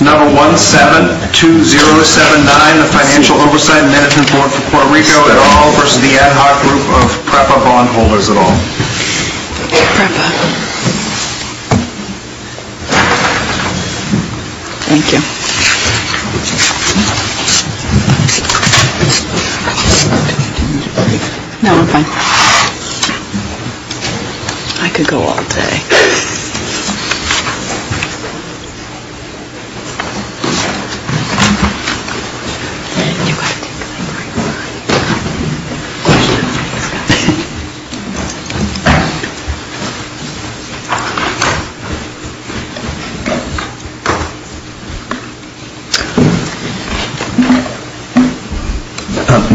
No. 172079, the Financial Oversight and Management Board for Puerto Rico et al. v. the Ad Hoc Group of PREPA Bondholders et al. PREPA. Thank you. No, I'm fine. I could go all day. Thank you.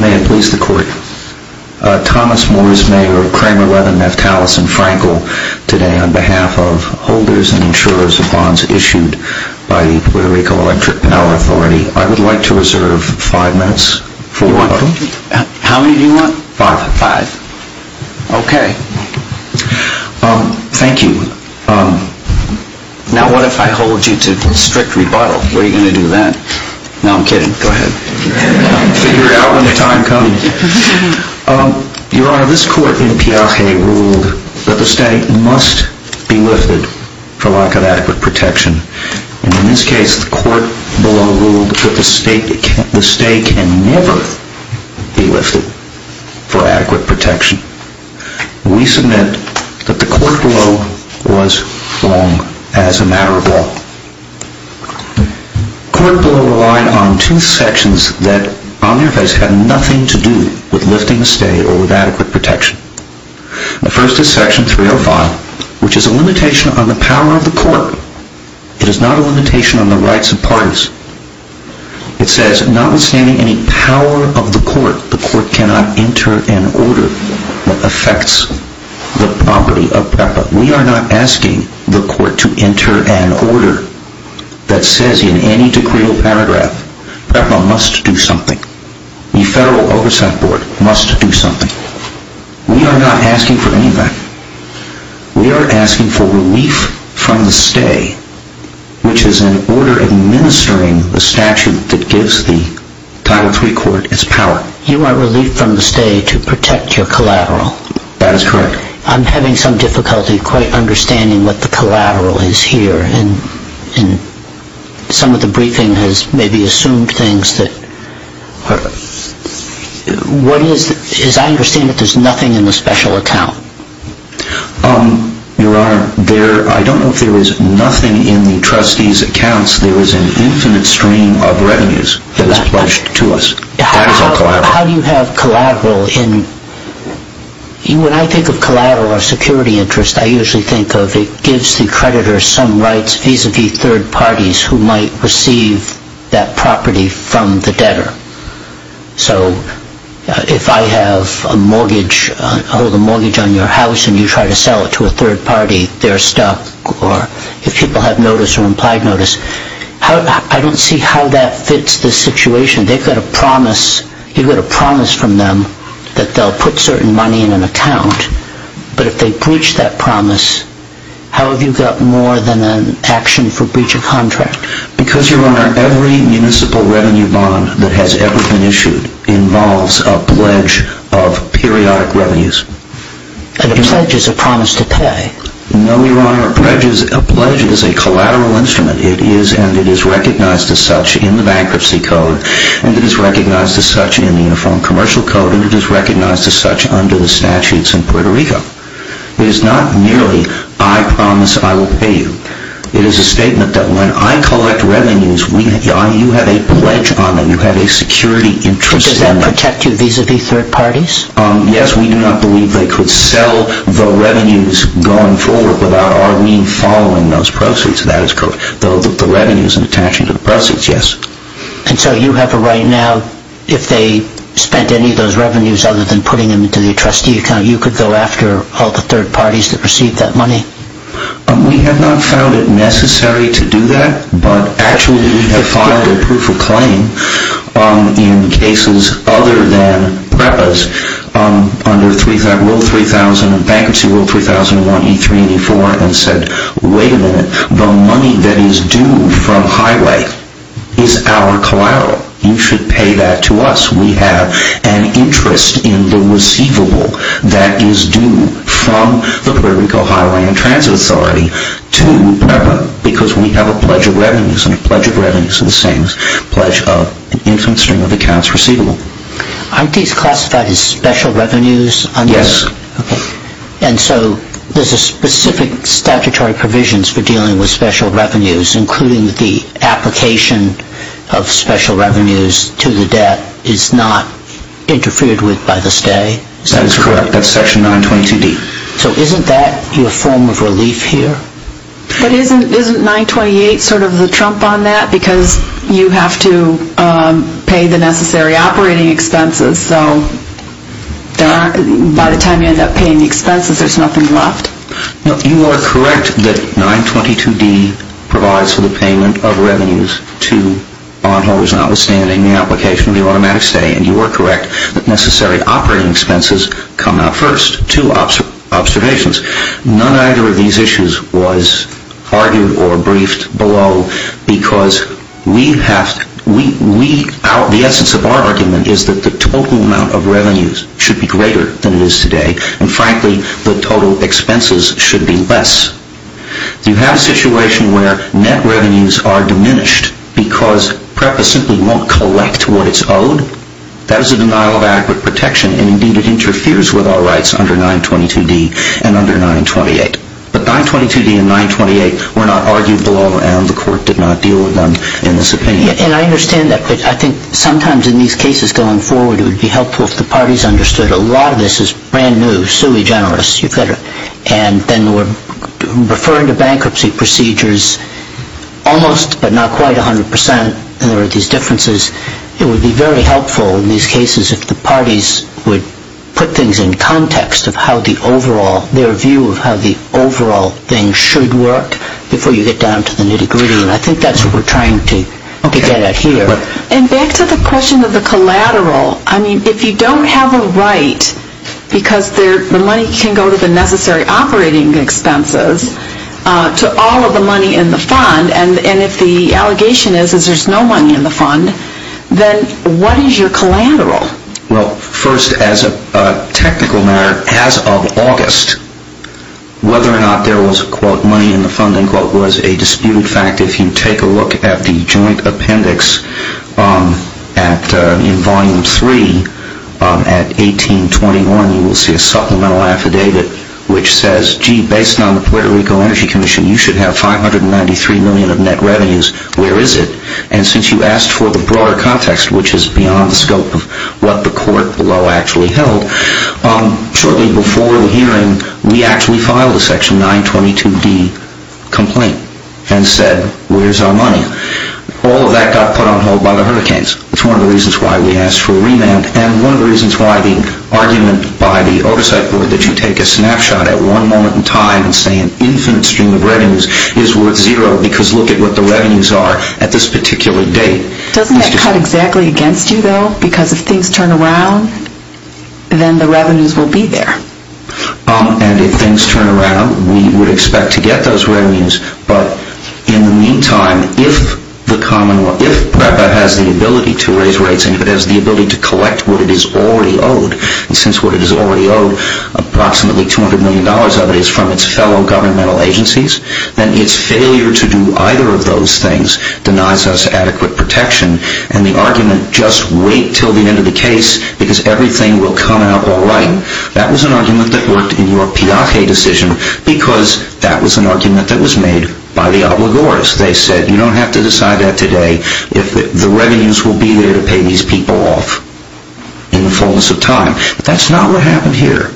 May it please the Court. Thomas Moores, Mayor of Kramer, Leatherneft, Hallis, and Frankel. Today, on behalf of holders and insurers of bonds issued by the Puerto Rico Electric Power Authority, I would like to reserve five minutes for rebuttal. How many do you want? Five. Five. Okay. Thank you. Now, what if I hold you to strict rebuttal? What are you going to do then? No, I'm kidding. Go ahead. Figure it out in the time coming. Your Honor, this Court in Piaget ruled that the stake must be lifted for lack of adequate protection. In this case, the Court below ruled that the stake can never be lifted for adequate protection. We submit that the Court below was wrong as a matter of law. The Court below relied on two sections that on their face had nothing to do with lifting the stake or with adequate protection. The first is Section 305, which is a limitation on the power of the Court. It is not a limitation on the rights of parties. It says, notwithstanding any power of the Court, the Court cannot enter an order that affects the property of PREPA. We are not asking the Court to enter an order that says in any decreal paragraph, PREPA must do something. The Federal Oversight Board must do something. We are not asking for any of that. We are asking for relief from the stay, which is an order administering the statute that gives the Title III Court its power. You want relief from the stay to protect your collateral. That is correct. I'm having some difficulty quite understanding what the collateral is here. Some of the briefing has maybe assumed things that... What is... I understand that there is nothing in the special account. Your Honor, I don't know if there is nothing in the trustee's accounts. There is an infinite stream of revenues that is pledged to us. How do you have collateral in... When I think of collateral or security interest, I usually think of it gives the creditor some rights vis-à-vis third parties who might receive that property from the debtor. So, if I have a mortgage, I hold a mortgage on your house and you try to sell it to a third party, they are stuck. Or if people have notice or implied notice. I don't see how that fits this situation. They've got a promise. You've got a promise from them that they'll put certain money in an account. But if they breach that promise, how have you got more than an action for breach of contract? Because, Your Honor, every municipal revenue bond that has ever been issued involves a pledge of periodic revenues. And a pledge is a promise to pay. No, Your Honor. A pledge is a collateral instrument. And it is recognized as such in the Bankruptcy Code. And it is recognized as such in the Uniform Commercial Code. And it is recognized as such under the statutes in Puerto Rico. It is not merely, I promise I will pay you. It is a statement that when I collect revenues, you have a pledge on it. You have a security interest on it. Does that protect you vis-à-vis third parties? Yes, we do not believe they could sell the revenues going forward without our being following those proceeds. The revenue isn't attached to the proceeds, yes. And so you have a right now, if they spent any of those revenues other than putting them into the trustee account, you could go after all the third parties that received that money? We have not found it necessary to do that. But actually we have filed a proof of claim in cases other than PREPAs under Rule 3000, Bankruptcy Rule 3001, E3 and E4, and said, wait a minute, the money that is due from Highway is our collateral. You should pay that to us. We have an interest in the receivable that is due from the Puerto Rico Highway and Transit Authority to PREPA because we have a pledge of revenues and a pledge of revenues is the same pledge of an infinite stream of accounts receivable. Aren't these classified as special revenues? Yes. And so there are specific statutory provisions for dealing with special revenues, including the application of special revenues to the debt is not interfered with by the state? That is correct. That is Section 922D. So isn't that your form of relief here? But isn't 928 sort of the trump on that because you have to pay the necessary operating expenses, so by the time you end up paying the expenses there is nothing left? No, you are correct that 922D provides for the payment of revenues to bondholders, notwithstanding the application of the automatic stay, and you are correct that necessary operating expenses come out first to observations. None either of these issues was argued or briefed below because the essence of our argument is that the total amount of revenues should be greater than it is today and frankly the total expenses should be less. Do you have a situation where net revenues are diminished because PREPA simply won't collect what it is owed? That is a denial of adequate protection and indeed it interferes with our rights under 922D and under 928. But 922D and 928 were not argued below and the court did not deal with them in this opinion. And I understand that but I think sometimes in these cases going forward it would be helpful if the parties understood a lot of this is brand new, sui generis, and then we are referring to bankruptcy procedures almost but not quite 100% and there are these differences. It would be very helpful in these cases if the parties would put things in context of how the overall, their view of how the overall thing should work before you get down to the nitty gritty. And I think that is what we are trying to get at here. And back to the question of the collateral, I mean if you don't have a right because the money can go to the necessary operating expenses to all of the money in the fund and if the allegation is there is no money in the fund, then what is your collateral? Well, first as a technical matter, as of August, whether or not there was money in the fund was a disputed fact. If you take a look at the joint appendix in Volume 3 at 1821, you will see a supplemental affidavit which says, gee, based on the Puerto Rico Energy Commission you should have 593 million of net revenues. Where is it? And since you asked for the broader context which is beyond the scope of what the court below actually held, shortly before the hearing we actually filed a section 922D complaint and said where is our money? All of that got put on hold by the hurricanes. It is one of the reasons why we asked for a remand and one of the reasons why the argument by the oversight board that you take a snapshot at one moment in time and say an infinite stream of revenues is worth zero because look at what the revenues are at this particular date. Doesn't that cut exactly against you though? Because if things turn around, then the revenues will be there. And if things turn around, we would expect to get those revenues, but in the meantime, if PREPA has the ability to raise rates and if it has the ability to collect what it is already owed, and since what it is already owed, approximately $200 million of it is from its fellow governmental agencies, then its failure to do either of those things denies us adequate protection and the argument just wait until the end of the case because everything will come out alright, that was an argument that worked in your Piaget decision because that was an argument that was made by the obligors. They said you don't have to decide that today if the revenues will be there to pay these people off in the fullness of time. But that's not what happened here.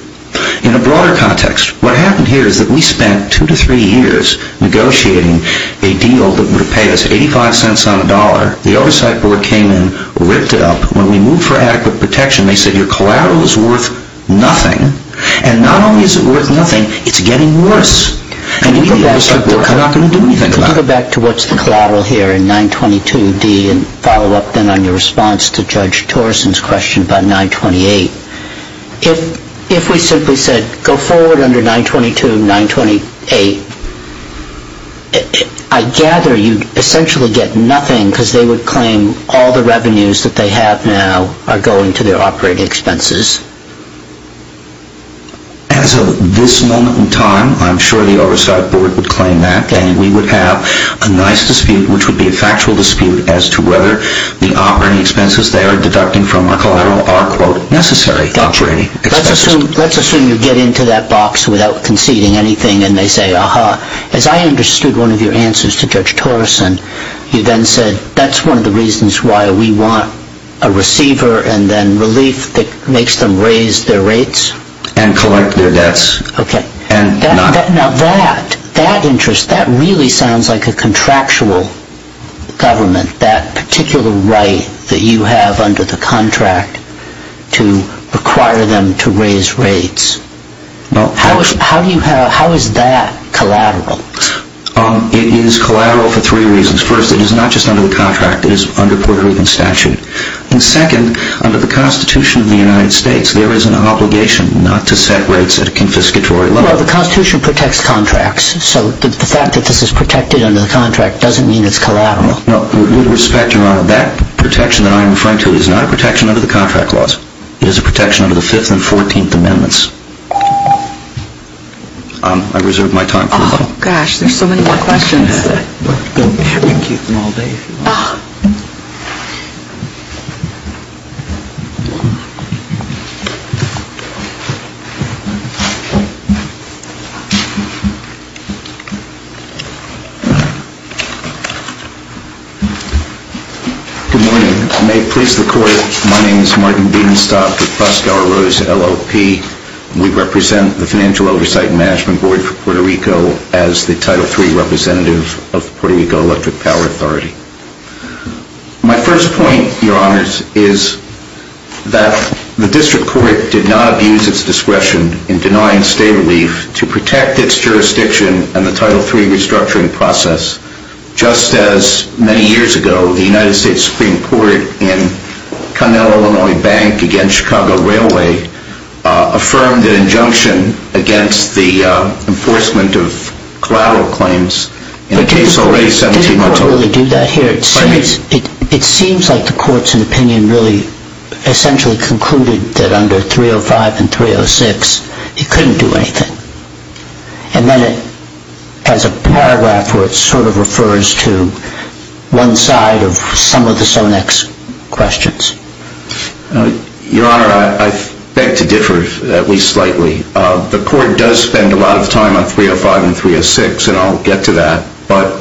In a broader context, what happened here is that we spent two to three years negotiating a deal that would have paid us 85 cents on a dollar. The Oversight Board came in, ripped it up. When we moved for adequate protection, they said your collateral is worth nothing. And not only is it worth nothing, it's getting worse. And we at the Oversight Board are not going to do anything about it. Let's go back to what's the collateral here in 922D and follow up then on your response to Judge Torsen's question about 928. If we simply said go forward under 922, 928, I gather you'd essentially get nothing because they would claim all the revenues that they have now are going to their operating expenses. As of this moment in time, I'm sure the Oversight Board would claim that and have a nice dispute which would be a factual dispute as to whether the operating expenses they are deducting from our collateral are necessary operating expenses. Let's assume you get into that box without conceding anything and they say, Aha, as I understood one of your answers to Judge Torsen, you then said, that's one of the reasons why we want a receiver and then relief that makes them raise their rates. And collect their debts. Now that, that interest, that really sounds like a contractual government, that particular right that you have under the contract to require them to raise rates. How is that collateral? It is collateral for three reasons. First, it is not just under the contract, it is under Puerto Rican statute. And second, under the Constitution of the United States, there is an obligation not to set rates at a confiscatory level. Well, the Constitution protects contracts, so the fact that this is protected under the contract doesn't mean it's collateral. No, with respect, Your Honor, that protection that I am referring to is not a protection under the contract laws. It is a protection under the 5th and 14th Amendments. I reserved my time for a while. Oh, gosh, there are so many more questions. Don't make me keep them all day, if you want. Good morning. May it please the Court, my name is Martin Biedenstock with Pascal Ruiz, LLP. We represent the Financial Oversight and Management Board for Puerto Rico as the Title III representative of the Puerto Rico Electric Power Authority. My first point, Your Honors, is that the District Court did not abuse its discretion in denying state relief to protect its jurisdiction and the Title III restructuring process, just as, many years ago, the United States Supreme Court in Connell, Illinois, Bank v. Chicago Railway affirmed an injunction against the enforcement of collateral claims in a case already 17 months old. But did the Court really do that here? It seems like the Court's opinion really essentially concluded that under 305 and 306, it couldn't do anything. And then it has a paragraph where it sort of refers to one side of some of the Sonex questions. Your Honor, I beg to differ, at least slightly. The Court does spend a lot of time on 305 and 306, and I'll get to that. But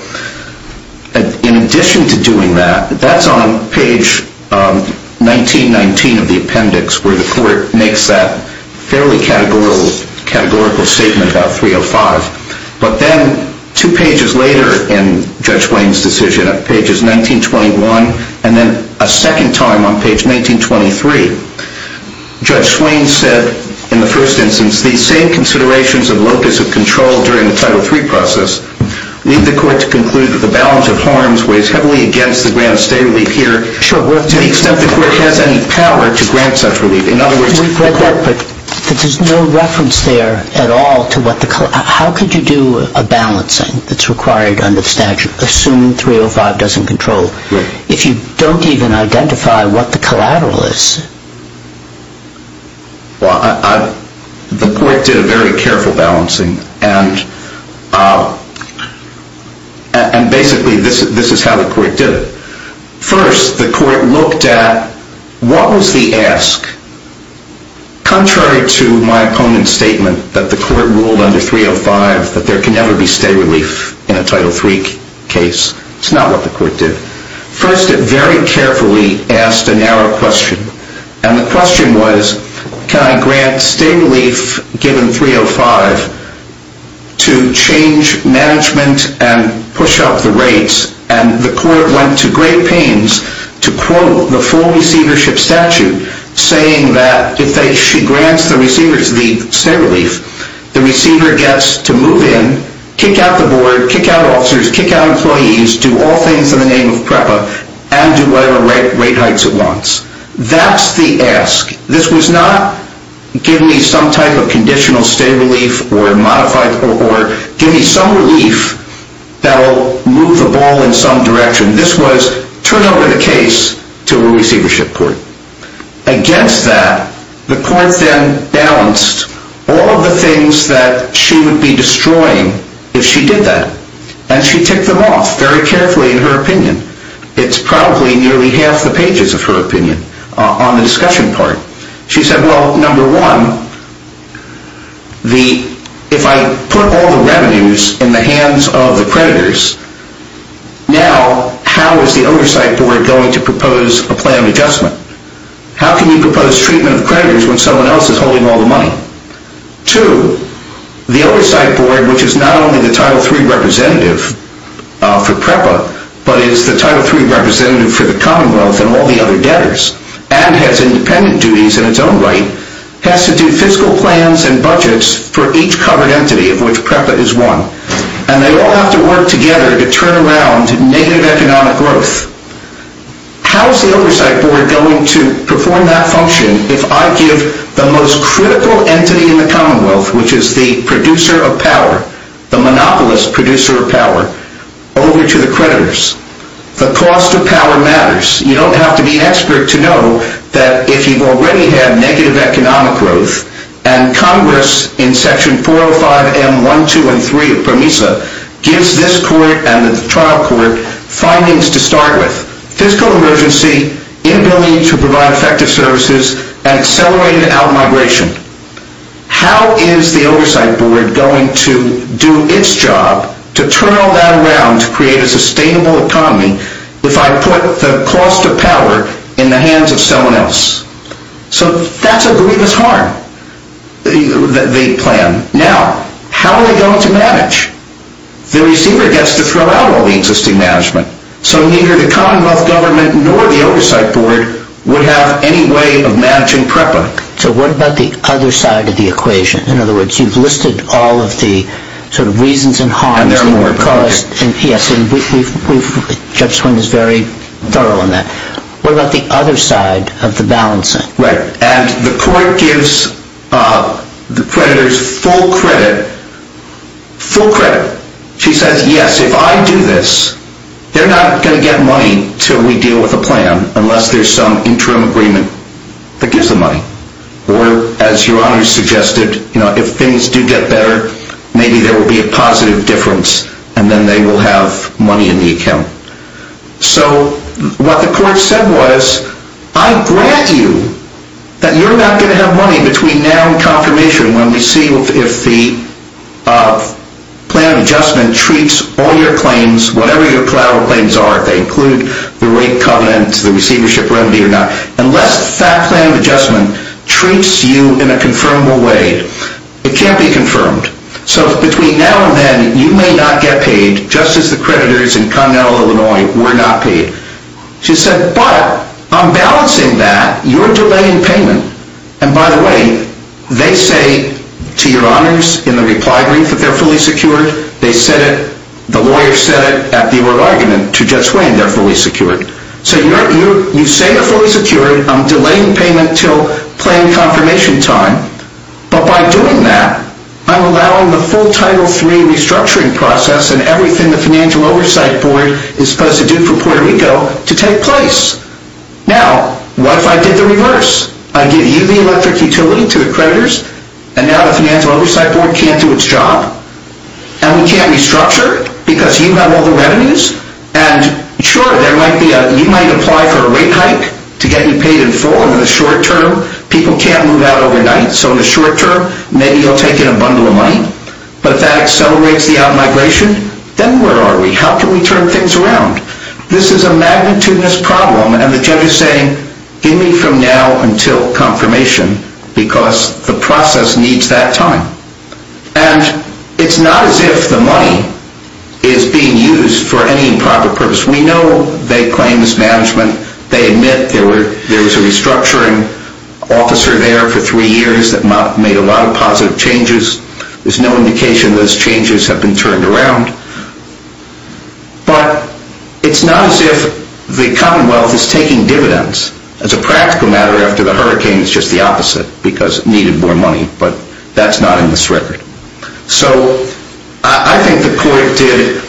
in addition to doing that, that's on page 1919 of the appendix, where the Court makes that fairly categorical statement about 305. But then, two pages later in Judge Swain's decision, at pages 1921 and then a second time on page 1923, Judge Swain said, in the first instance, the same considerations of locus of control during the Title III process lead the Court to conclude that the balance of harms weighs heavily against the grant of state relief here, to the extent the Court has any power to grant such relief. But there's no reference there at all to what the collateral... How could you do a balancing that's required under the statute, assuming 305 doesn't control, if you don't even identify what the collateral is? Well, the Court did a very careful balancing, and basically this is how the Court did it. First, the Court looked at what was the ask, contrary to my opponent's statement that the Court ruled under 305 that there can never be state relief in a Title III case. It's not what the Court did. First, it very carefully asked a narrow question. And the question was, can I grant state relief given 305 to change management and push up the rates? And the Court went to great pains to quote the full receivership statute, saying that if she grants the state relief, the receiver gets to move in, kick out the board, kick out officers, kick out employees, do all things in the name of PREPA, and do whatever rate heights it wants. That's the ask. This was not, give me some type of conditional state relief or give me some relief that will move the ball in some direction. This was, turn over the case to a receivership court. Against that, the Court then balanced all of the things that she would be destroying if she did that. And she took them off very carefully in her opinion. It's probably nearly half the pages of her opinion on the discussion part. She said, well, number one, if I put all the revenues in the hands of the creditors, now how is the oversight board going to propose a plan of adjustment? How can you propose treatment of creditors when someone else is holding all the money? Two, the oversight board, which is not only the Title III representative for PREPA, but is the Title III representative for the Commonwealth and all the other debtors, and has independent duties in its own right, has to do fiscal plans and budgets for each covered entity of which PREPA is one. And they all have to work together to turn around negative economic growth. How is the oversight board going to perform that function if I give the most critical entity in the Commonwealth, which is the producer of power, the monopolist producer of power, over to the creditors? The cost of power matters. You don't have to be an expert to know that if you've already had negative economic growth, and Congress in Section 405M1, 2, and 3 of PROMESA gives this court and the trial court findings to start with, fiscal emergency, inability to provide effective services, and accelerated out migration, how is the oversight board going to do its job to turn all that around to create a sustainable economy if I put the cost of power in the hands of someone else? So that's a grievous harm, the plan. Now, how are they going to manage? The receiver gets to throw out all the existing management. So neither the Commonwealth government nor the oversight board would have any way of managing PREPA. So what about the other side of the equation? In other words, you've listed all of the reasons and harms that were caused. And there are more than that. Judge Swinton is very thorough on that. What about the other side of the balancing? Right. And the court gives the creditors full credit. Full credit. She says, yes, if I do this, they're not going to get money until we deal with the plan, unless there's some interim agreement that gives them money. Or, as Your Honor suggested, if things do get better, maybe there will be a positive difference, and then they will have money in the account. So what the court said was, I grant you that you're not going to have money between now and confirmation, when we see if the plan of adjustment treats all your claims, whatever your collateral claims are, if they include the rape covenant, the receivership remedy or not, unless that plan of adjustment treats you in a confirmable way. It can't be confirmed. So between now and then, you may not get paid, just as the creditors in Connell, Illinois were not paid. She said, but I'm balancing that. You're delaying payment. And by the way, they say to Your Honors in the reply brief that they're fully secured. They said it, the lawyer said it at the oral argument to Judge Swain, they're fully secured. So you say they're fully secured, I'm delaying payment until plan confirmation time. But by doing that, I'm allowing the full Title III restructuring process and everything the Financial Oversight Board is supposed to do for Puerto Rico to take place. Now, what if I did the reverse? I give you the electric utility to the creditors, and now the Financial Oversight Board can't do its job? And we can't restructure because you have all the revenues? And sure, you might apply for a rate hike to get you paid in full, but in the short term, people can't move out overnight. So in the short term, maybe you'll take in a bundle of money? But if that accelerates the out-migration, then where are we? How can we turn things around? This is a magnitudinous problem, and the judge is saying, give me from now until confirmation, because the process needs that time. And it's not as if the money is being used for any improper purpose. We know they claim mismanagement. They admit there was a restructuring officer there for three years that made a lot of positive changes. There's no indication those changes have been turned around. But it's not as if the Commonwealth is taking dividends. As a practical matter, after the hurricane, it's just the opposite, because it needed more money. But that's not in this record. So I think the court did,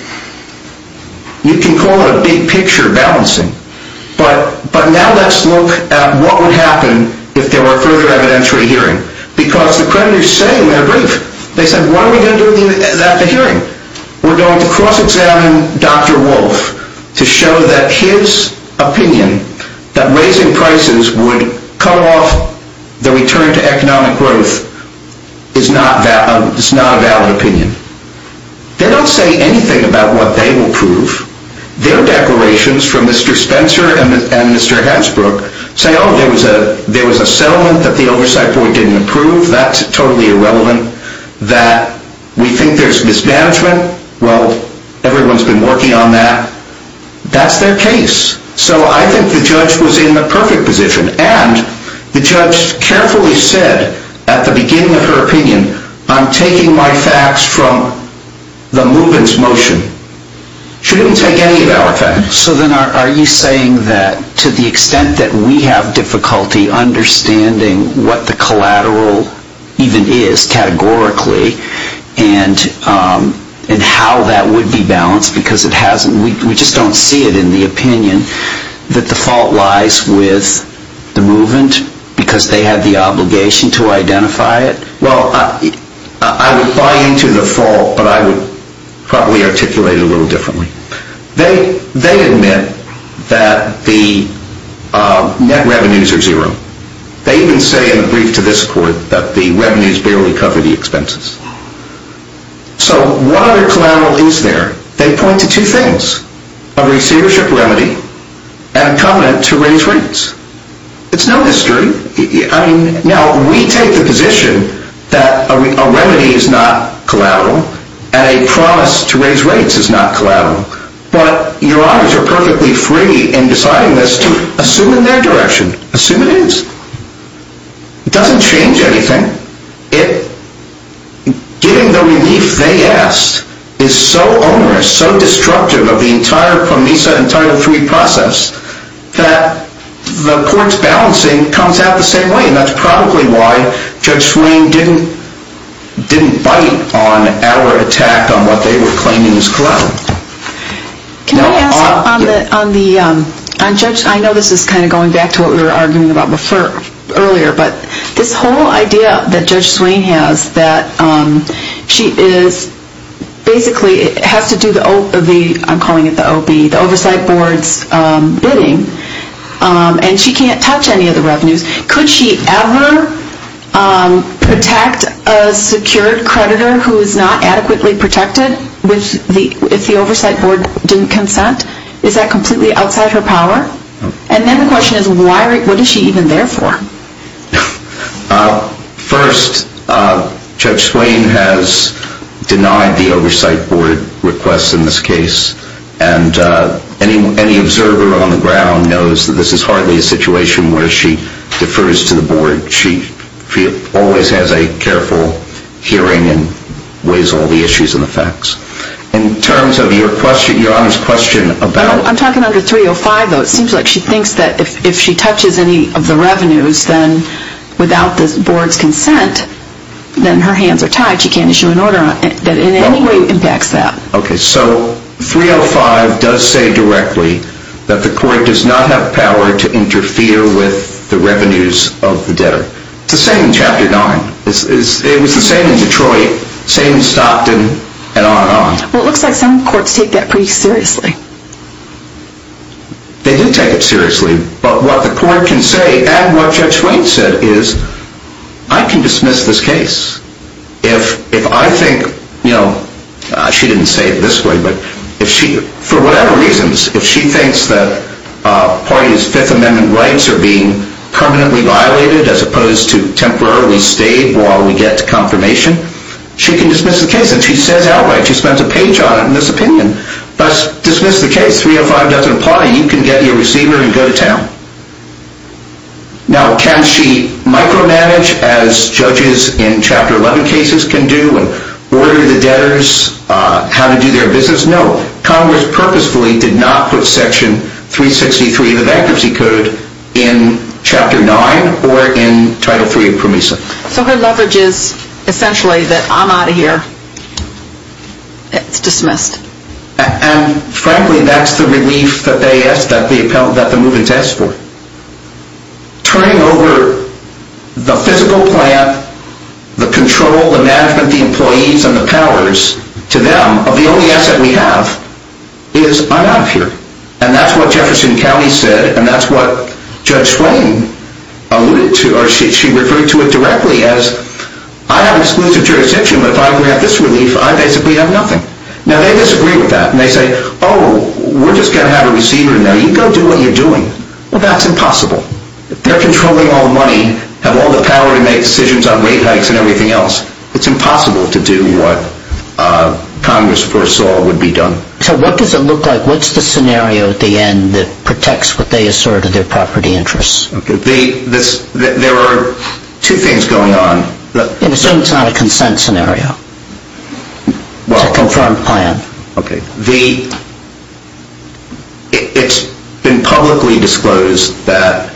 you can call it a big-picture balancing. But now let's look at what would happen if there were further evidentiary hearing. Because the creditors say they're brief. They say, what are we going to do after hearing? We're going to cross-examine Dr. Wolf to show that his opinion that raising prices would cut off the return to economic growth is not a valid opinion. They don't say anything about what they will prove. Their declarations from Mr. Spencer and Mr. Hansbrook say, oh, there was a settlement that the oversight board didn't approve. That's totally irrelevant. That we think there's mismanagement. Well, everyone's been working on that. That's their case. So I think the judge was in the perfect position. And the judge carefully said at the beginning of her opinion, I'm taking my facts from the Moobin's motion. She didn't take any of our facts. So then are you saying that to the extent that we have difficulty understanding what the collateral even is categorically and how that would be balanced, because we just don't see it in the opinion that the fault lies with the Moobin's, because they have the obligation to identify it? Well, I would buy into the fault, but I would probably articulate it a little differently. They admit that the net revenues are zero. They even say in the brief to this court that the revenues barely cover the expenses. So what other collateral is there? They point to two things. A receivership remedy and a covenant to raise rates. It's no mystery. Now, we take the position that a remedy is not collateral and a promise to raise rates is not collateral. But your honors are perfectly free in deciding this to assume in their direction. Assume it is. It doesn't change anything. Giving the relief they asked is so onerous, so destructive of the entire Pomesa and Title III process that the court's balancing comes out the same way. And that's probably why Judge Swain didn't bite on our attack on what they were claiming as collateral. Can I ask on the, on Judge, I know this is kind of going back to what we were arguing about before, earlier, but this whole idea that Judge Swain has that she is basically has to do the, I'm calling it the OB, the oversight board's bidding and she can't touch any of the revenues. Could she ever protect a secured creditor who is not adequately protected if the oversight board didn't consent? Is that completely outside her power? And then the question is what is she even there for? First, Judge Swain has denied the oversight board request in this case and any observer on the ground knows that this is hardly a situation where she defers to the board. She always has a careful hearing and weighs all the issues and the facts. In terms of your question, Your Honor's question about I'm talking under 305, though. It seems like she thinks that if she touches any of the revenues then without the board's consent, then her hands are tied. She can't issue an order that in any way impacts that. Okay, so 305 does say directly that the court does not have power to interfere with the revenues of the debtor. It's the same in Chapter 9. It was the same in Detroit, same in Stockton, and on and on. Well, it looks like some courts take that pretty seriously. They do take it seriously, but what the court can say and what Judge Swain said is I can dismiss this case. If I think, you know, she didn't say it this way, but if she, for whatever reasons, if she thinks that a party's Fifth Amendment rights are being permanently violated as opposed to temporarily stayed while we get to confirmation, she can dismiss the case. And she says outright, she spends a page on it in this opinion. Thus, dismiss the case. If 305 doesn't apply, you can get your receiver and go to town. Now, can she micromanage as judges in Chapter 11 cases can do and order the debtors how to do their business? No. Congress purposefully did not put Section 363 of the bankruptcy code in Chapter 9 or in Title 3 of PROMESA. So her leverage is essentially that I'm out of here. It's dismissed. And frankly, that's the relief that the move-in's asked for. Turning over the physical plant, the control, the management, the employees, and the powers to them of the only asset we have is I'm out of here. And that's what Jefferson County said and that's what Judge Swain alluded to or she referred to it directly as I have exclusive jurisdiction, but if I only have this relief, I basically have nothing. And they disagree with that. And they say, oh, we're just going to have a receiver in there. You go do what you're doing. Well, that's impossible. They're controlling all the money, have all the power to make decisions on rate hikes and everything else. It's impossible to do what Congress foresaw would be done. So what does it look like? What's the scenario at the end that protects what they asserted their property interests? There are two things going on. Assume it's not a consent scenario. It's a confirmed plan. Okay. It's been publicly disclosed that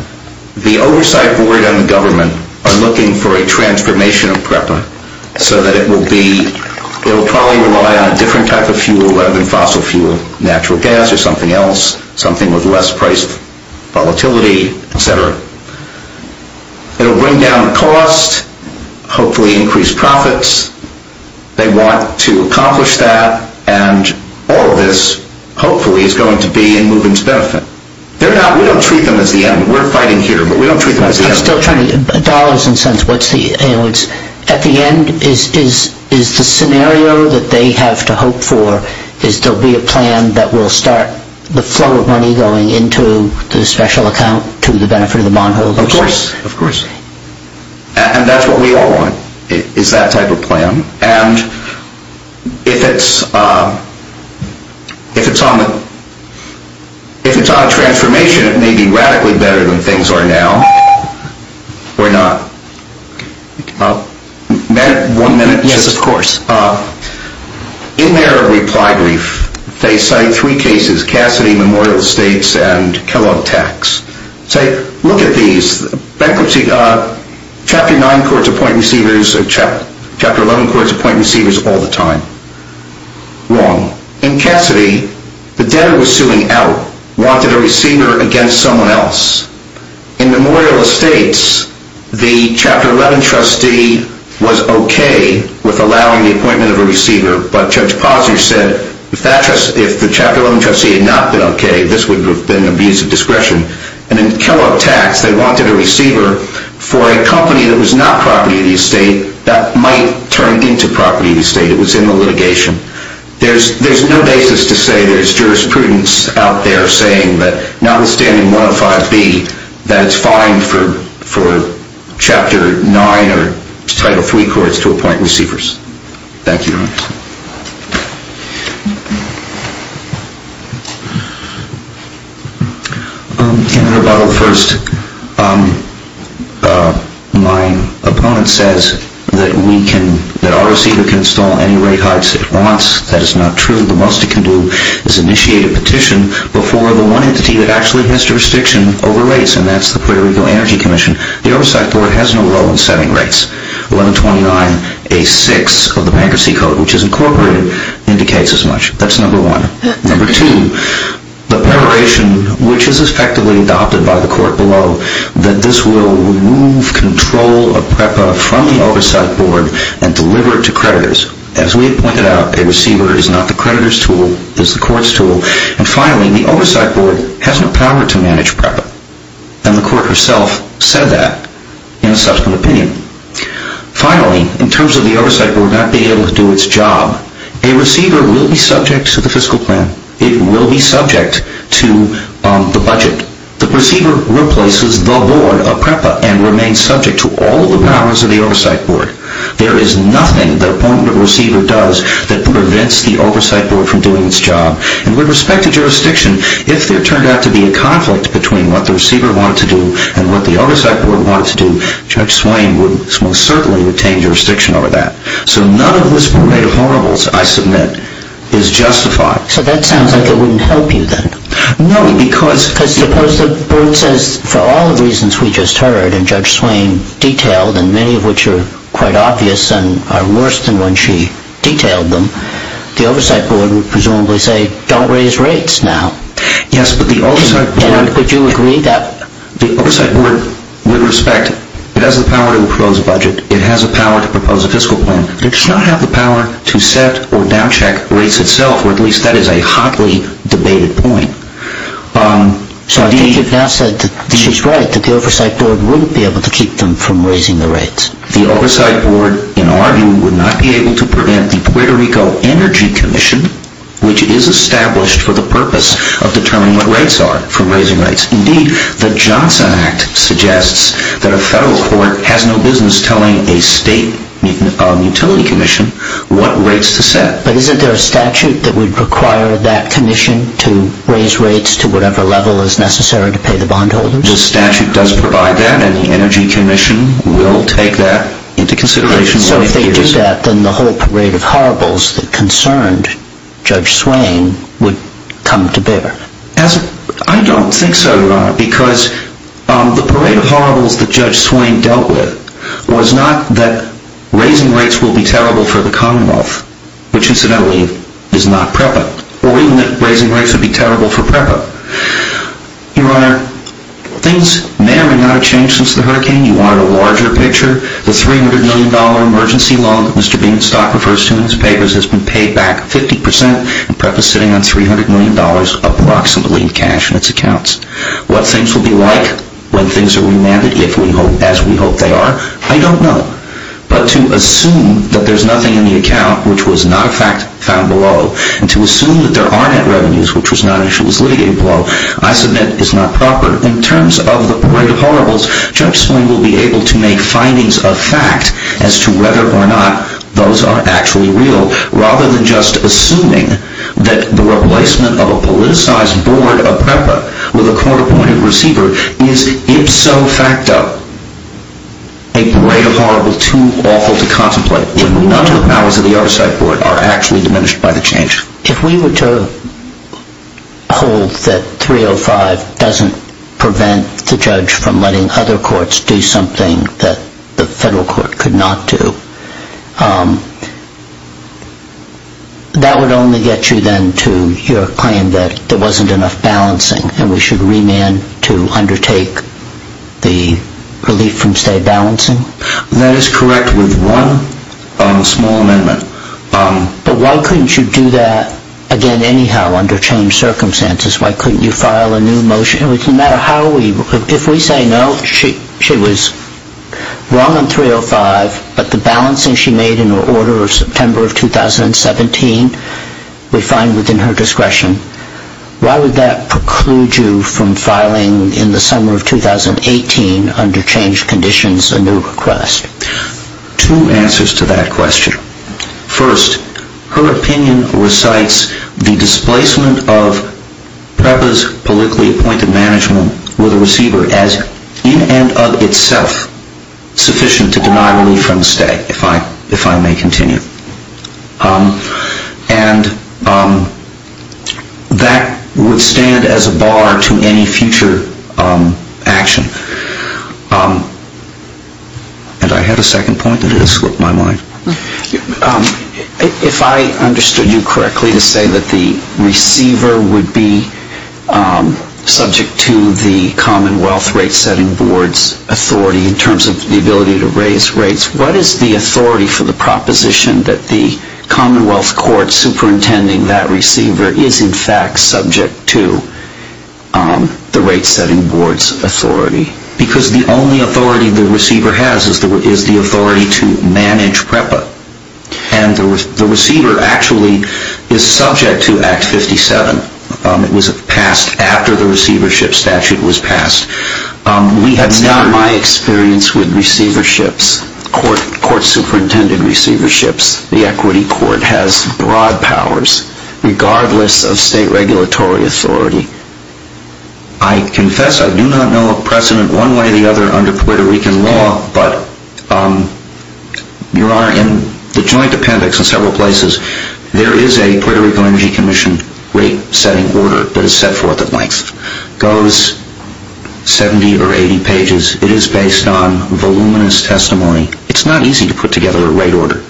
the oversight board and the government are looking for a transformation of PREPA so that it will probably rely on a different type of fuel rather than fossil fuel, natural gas or something else, something with less priced volatility, et cetera. It will bring down costs, hopefully increase profits, they want to accomplish that, and all of this, hopefully, is going to be in moving to benefit. We don't treat them as the enemy. We're fighting here, but we don't treat them as the enemy. I'm still trying to get dollars and cents. At the end, is the scenario that they have to hope for is there'll be a plan that will start the flow of money going into the special account to the benefit of the bondholders? Of course. And that's what we all want, is that type of plan. And if it's on a transformation, it may be radically better than things are now. Or not. May I have one minute? Yes, of course. In their reply brief, they cite three cases, Cassidy, Memorial Estates, and Kellogg Tax. Say, look at these. Bankruptcy. Chapter 9 courts appoint receivers. Chapter 11 courts appoint receivers all the time. Wrong. In Cassidy, the debtor was suing out, wanted a receiver against someone else. In Memorial Estates, the Chapter 11 trustee was okay with allowing the appointment of a receiver, but Judge Posner said, if the Chapter 11 trustee had not been okay, this would have been abuse of discretion. And in Kellogg Tax, they did not allow the appointment of a receiver for a company that was not property of the estate that might turn into property of the estate. It was in the litigation. There's no basis to say there's jurisprudence out there saying that notwithstanding 105B, that it's fine for Chapter 9 or Title III courts to appoint receivers. Thank you. In rebuttal first, my opponent says that our receiver can install any rate heights it wants. That is not true. The most it can do is initiate a petition before the one entity that actually has jurisdiction over rates, and that's the Puerto Rico Energy Commission. The Oversight Board has no role in setting rates. 1129A6 of the Bankruptcy Code which is incorporated indicates as much. That's number one. Number two, the preparation which is effectively adopted by the court below that this will remove control of PREPA from the Oversight Board and deliver it to creditors. As we pointed out, a receiver is not the creditor's tool, it's the court's tool. And finally, the Oversight Board has no power to manage PREPA, it's job. A receiver will be subject to the fiscal plan. It will be subject to the budget. The receiver replaces the board of PREPA and remains subject to all of the powers of the Oversight Board. There is nothing the opponent of the receiver does that prevents the Oversight Board from doing its job. And with respect to jurisdiction, if there turned out to be any of the horribles I submit is justified. So that sounds like it wouldn't help you then. No, because... Because suppose the board says for all the reasons we just heard and Judge Swain detailed and many of which are quite obvious and are worse than when she detailed them, the Oversight Board would presumably say don't raise rates now. Yes, but the Oversight Board... Would you agree that... The Oversight Board, with respect, it has the power to propose a budget, to set or downcheck rates itself or at least that is a hotly debated point. So I think you've now said that she's right, that the Oversight Board wouldn't be able to keep them from raising the rates. The Oversight Board, in our view, would not be able to prevent the Puerto Rico Energy Commission, which is established for the purpose of determining what rates are from raising rates. Indeed, the Johnson Act suggests that a federal court has no business telling a state utility commission what rates to set. But isn't there a statute that would require that commission to raise rates to whatever level is necessary to pay the bondholders? The statute does provide that and the Energy Commission will take that into consideration. So if they do that, then the whole parade of horribles that concerned Judge Swain would come to bear. I don't think so, Your Honor, because the parade of horribles was not that raising rates will be terrible for the Commonwealth, which incidentally is not PREPA, or even that raising rates would be terrible for PREPA. Your Honor, things may or may not have changed since the hurricane. You are in a larger picture. The $300 million emergency loan that Mr. Beanstalk refers to in his papers has been paid back 50 percent and PREPA is sitting on $300 million approximately in cash in its accounts. What things will be like when things are remanded, I don't know. But to assume that there's nothing in the account which was not a fact found below, and to assume that there are net revenues which was not issues litigated below, I submit is not proper. In terms of the parade of horribles, Judge Swain will be able to make findings of fact as to whether or not those are actually real, rather than just assuming that the replacement of a politicized board of PREPA with a court-appointed receiver is ipso facto a parade of horribles too awful to contemplate when none of the powers of the other side are actually diminished by the change. If we were to hold that 305 doesn't prevent the judge from letting other courts do something that the federal court could not do, that would only get you then to your claim that there wasn't enough balancing and we should remand to undertake the relief from state balancing? That is correct with one small amendment. But why couldn't you do that again anyhow under changed circumstances? Why couldn't you file a new motion? No matter how we, if we say no, she was wrong on 305, but the balancing she made in her order of September of 2017 we find within her discretion, why would that preclude you from filing in the summer of 2018 under changed conditions a new request? Two answers to that question. First, her opinion recites the displacement of PREPA's politically appointed management with a receiver as in and of itself sufficient to deny relief from state if I may continue. And that would stand as a bar to any future action. And I had a second point that has slipped my mind. If I understood you correctly to say that the receiver would be subject to the Commonwealth Rate Setting Board's authority in terms of the ability to raise rates, what is the authority for the proposition that the receiver is in fact subject to the Rate Setting Board's authority? Because the only authority the receiver has is the authority to manage PREPA. And the receiver actually is subject to Act 57. It was passed after the receivership statute was passed. It's not my experience with receiverships. Regardless of state regulatory authority, I confess I do not know a precedent one way or the other under Puerto Rican law, but you are in the Joint Appendix in several places. There is a Puerto Rican Energy Commission Rate Setting Board that is set forth at length. It goes 70 or 80 pages. It is based on voluminous testimony. It is not easy to put together a rate order.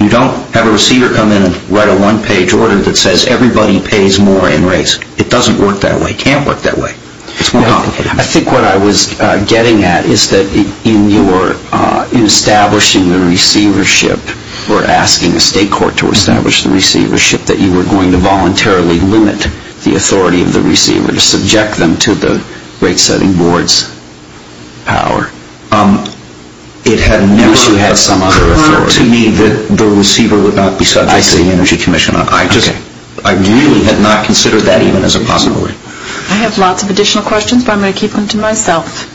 You don't have a receiver come in and write a one-page order that says everybody pays more in rates. It doesn't work that way. It can't work that way. It's more complicated. I think what I was getting at is that in establishing the receivership or asking the state court to establish the receivership, that you were going to voluntarily limit the authority of the receiver to subject them to the Rate Setting Board's power. It had never occurred to me that the receiver would not be subject to the Energy Commission. I really had not considered that even as a possibility. I have lots of additional questions, but I'm going to keep them to myself.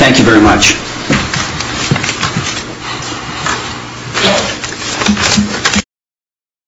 Thank you very much.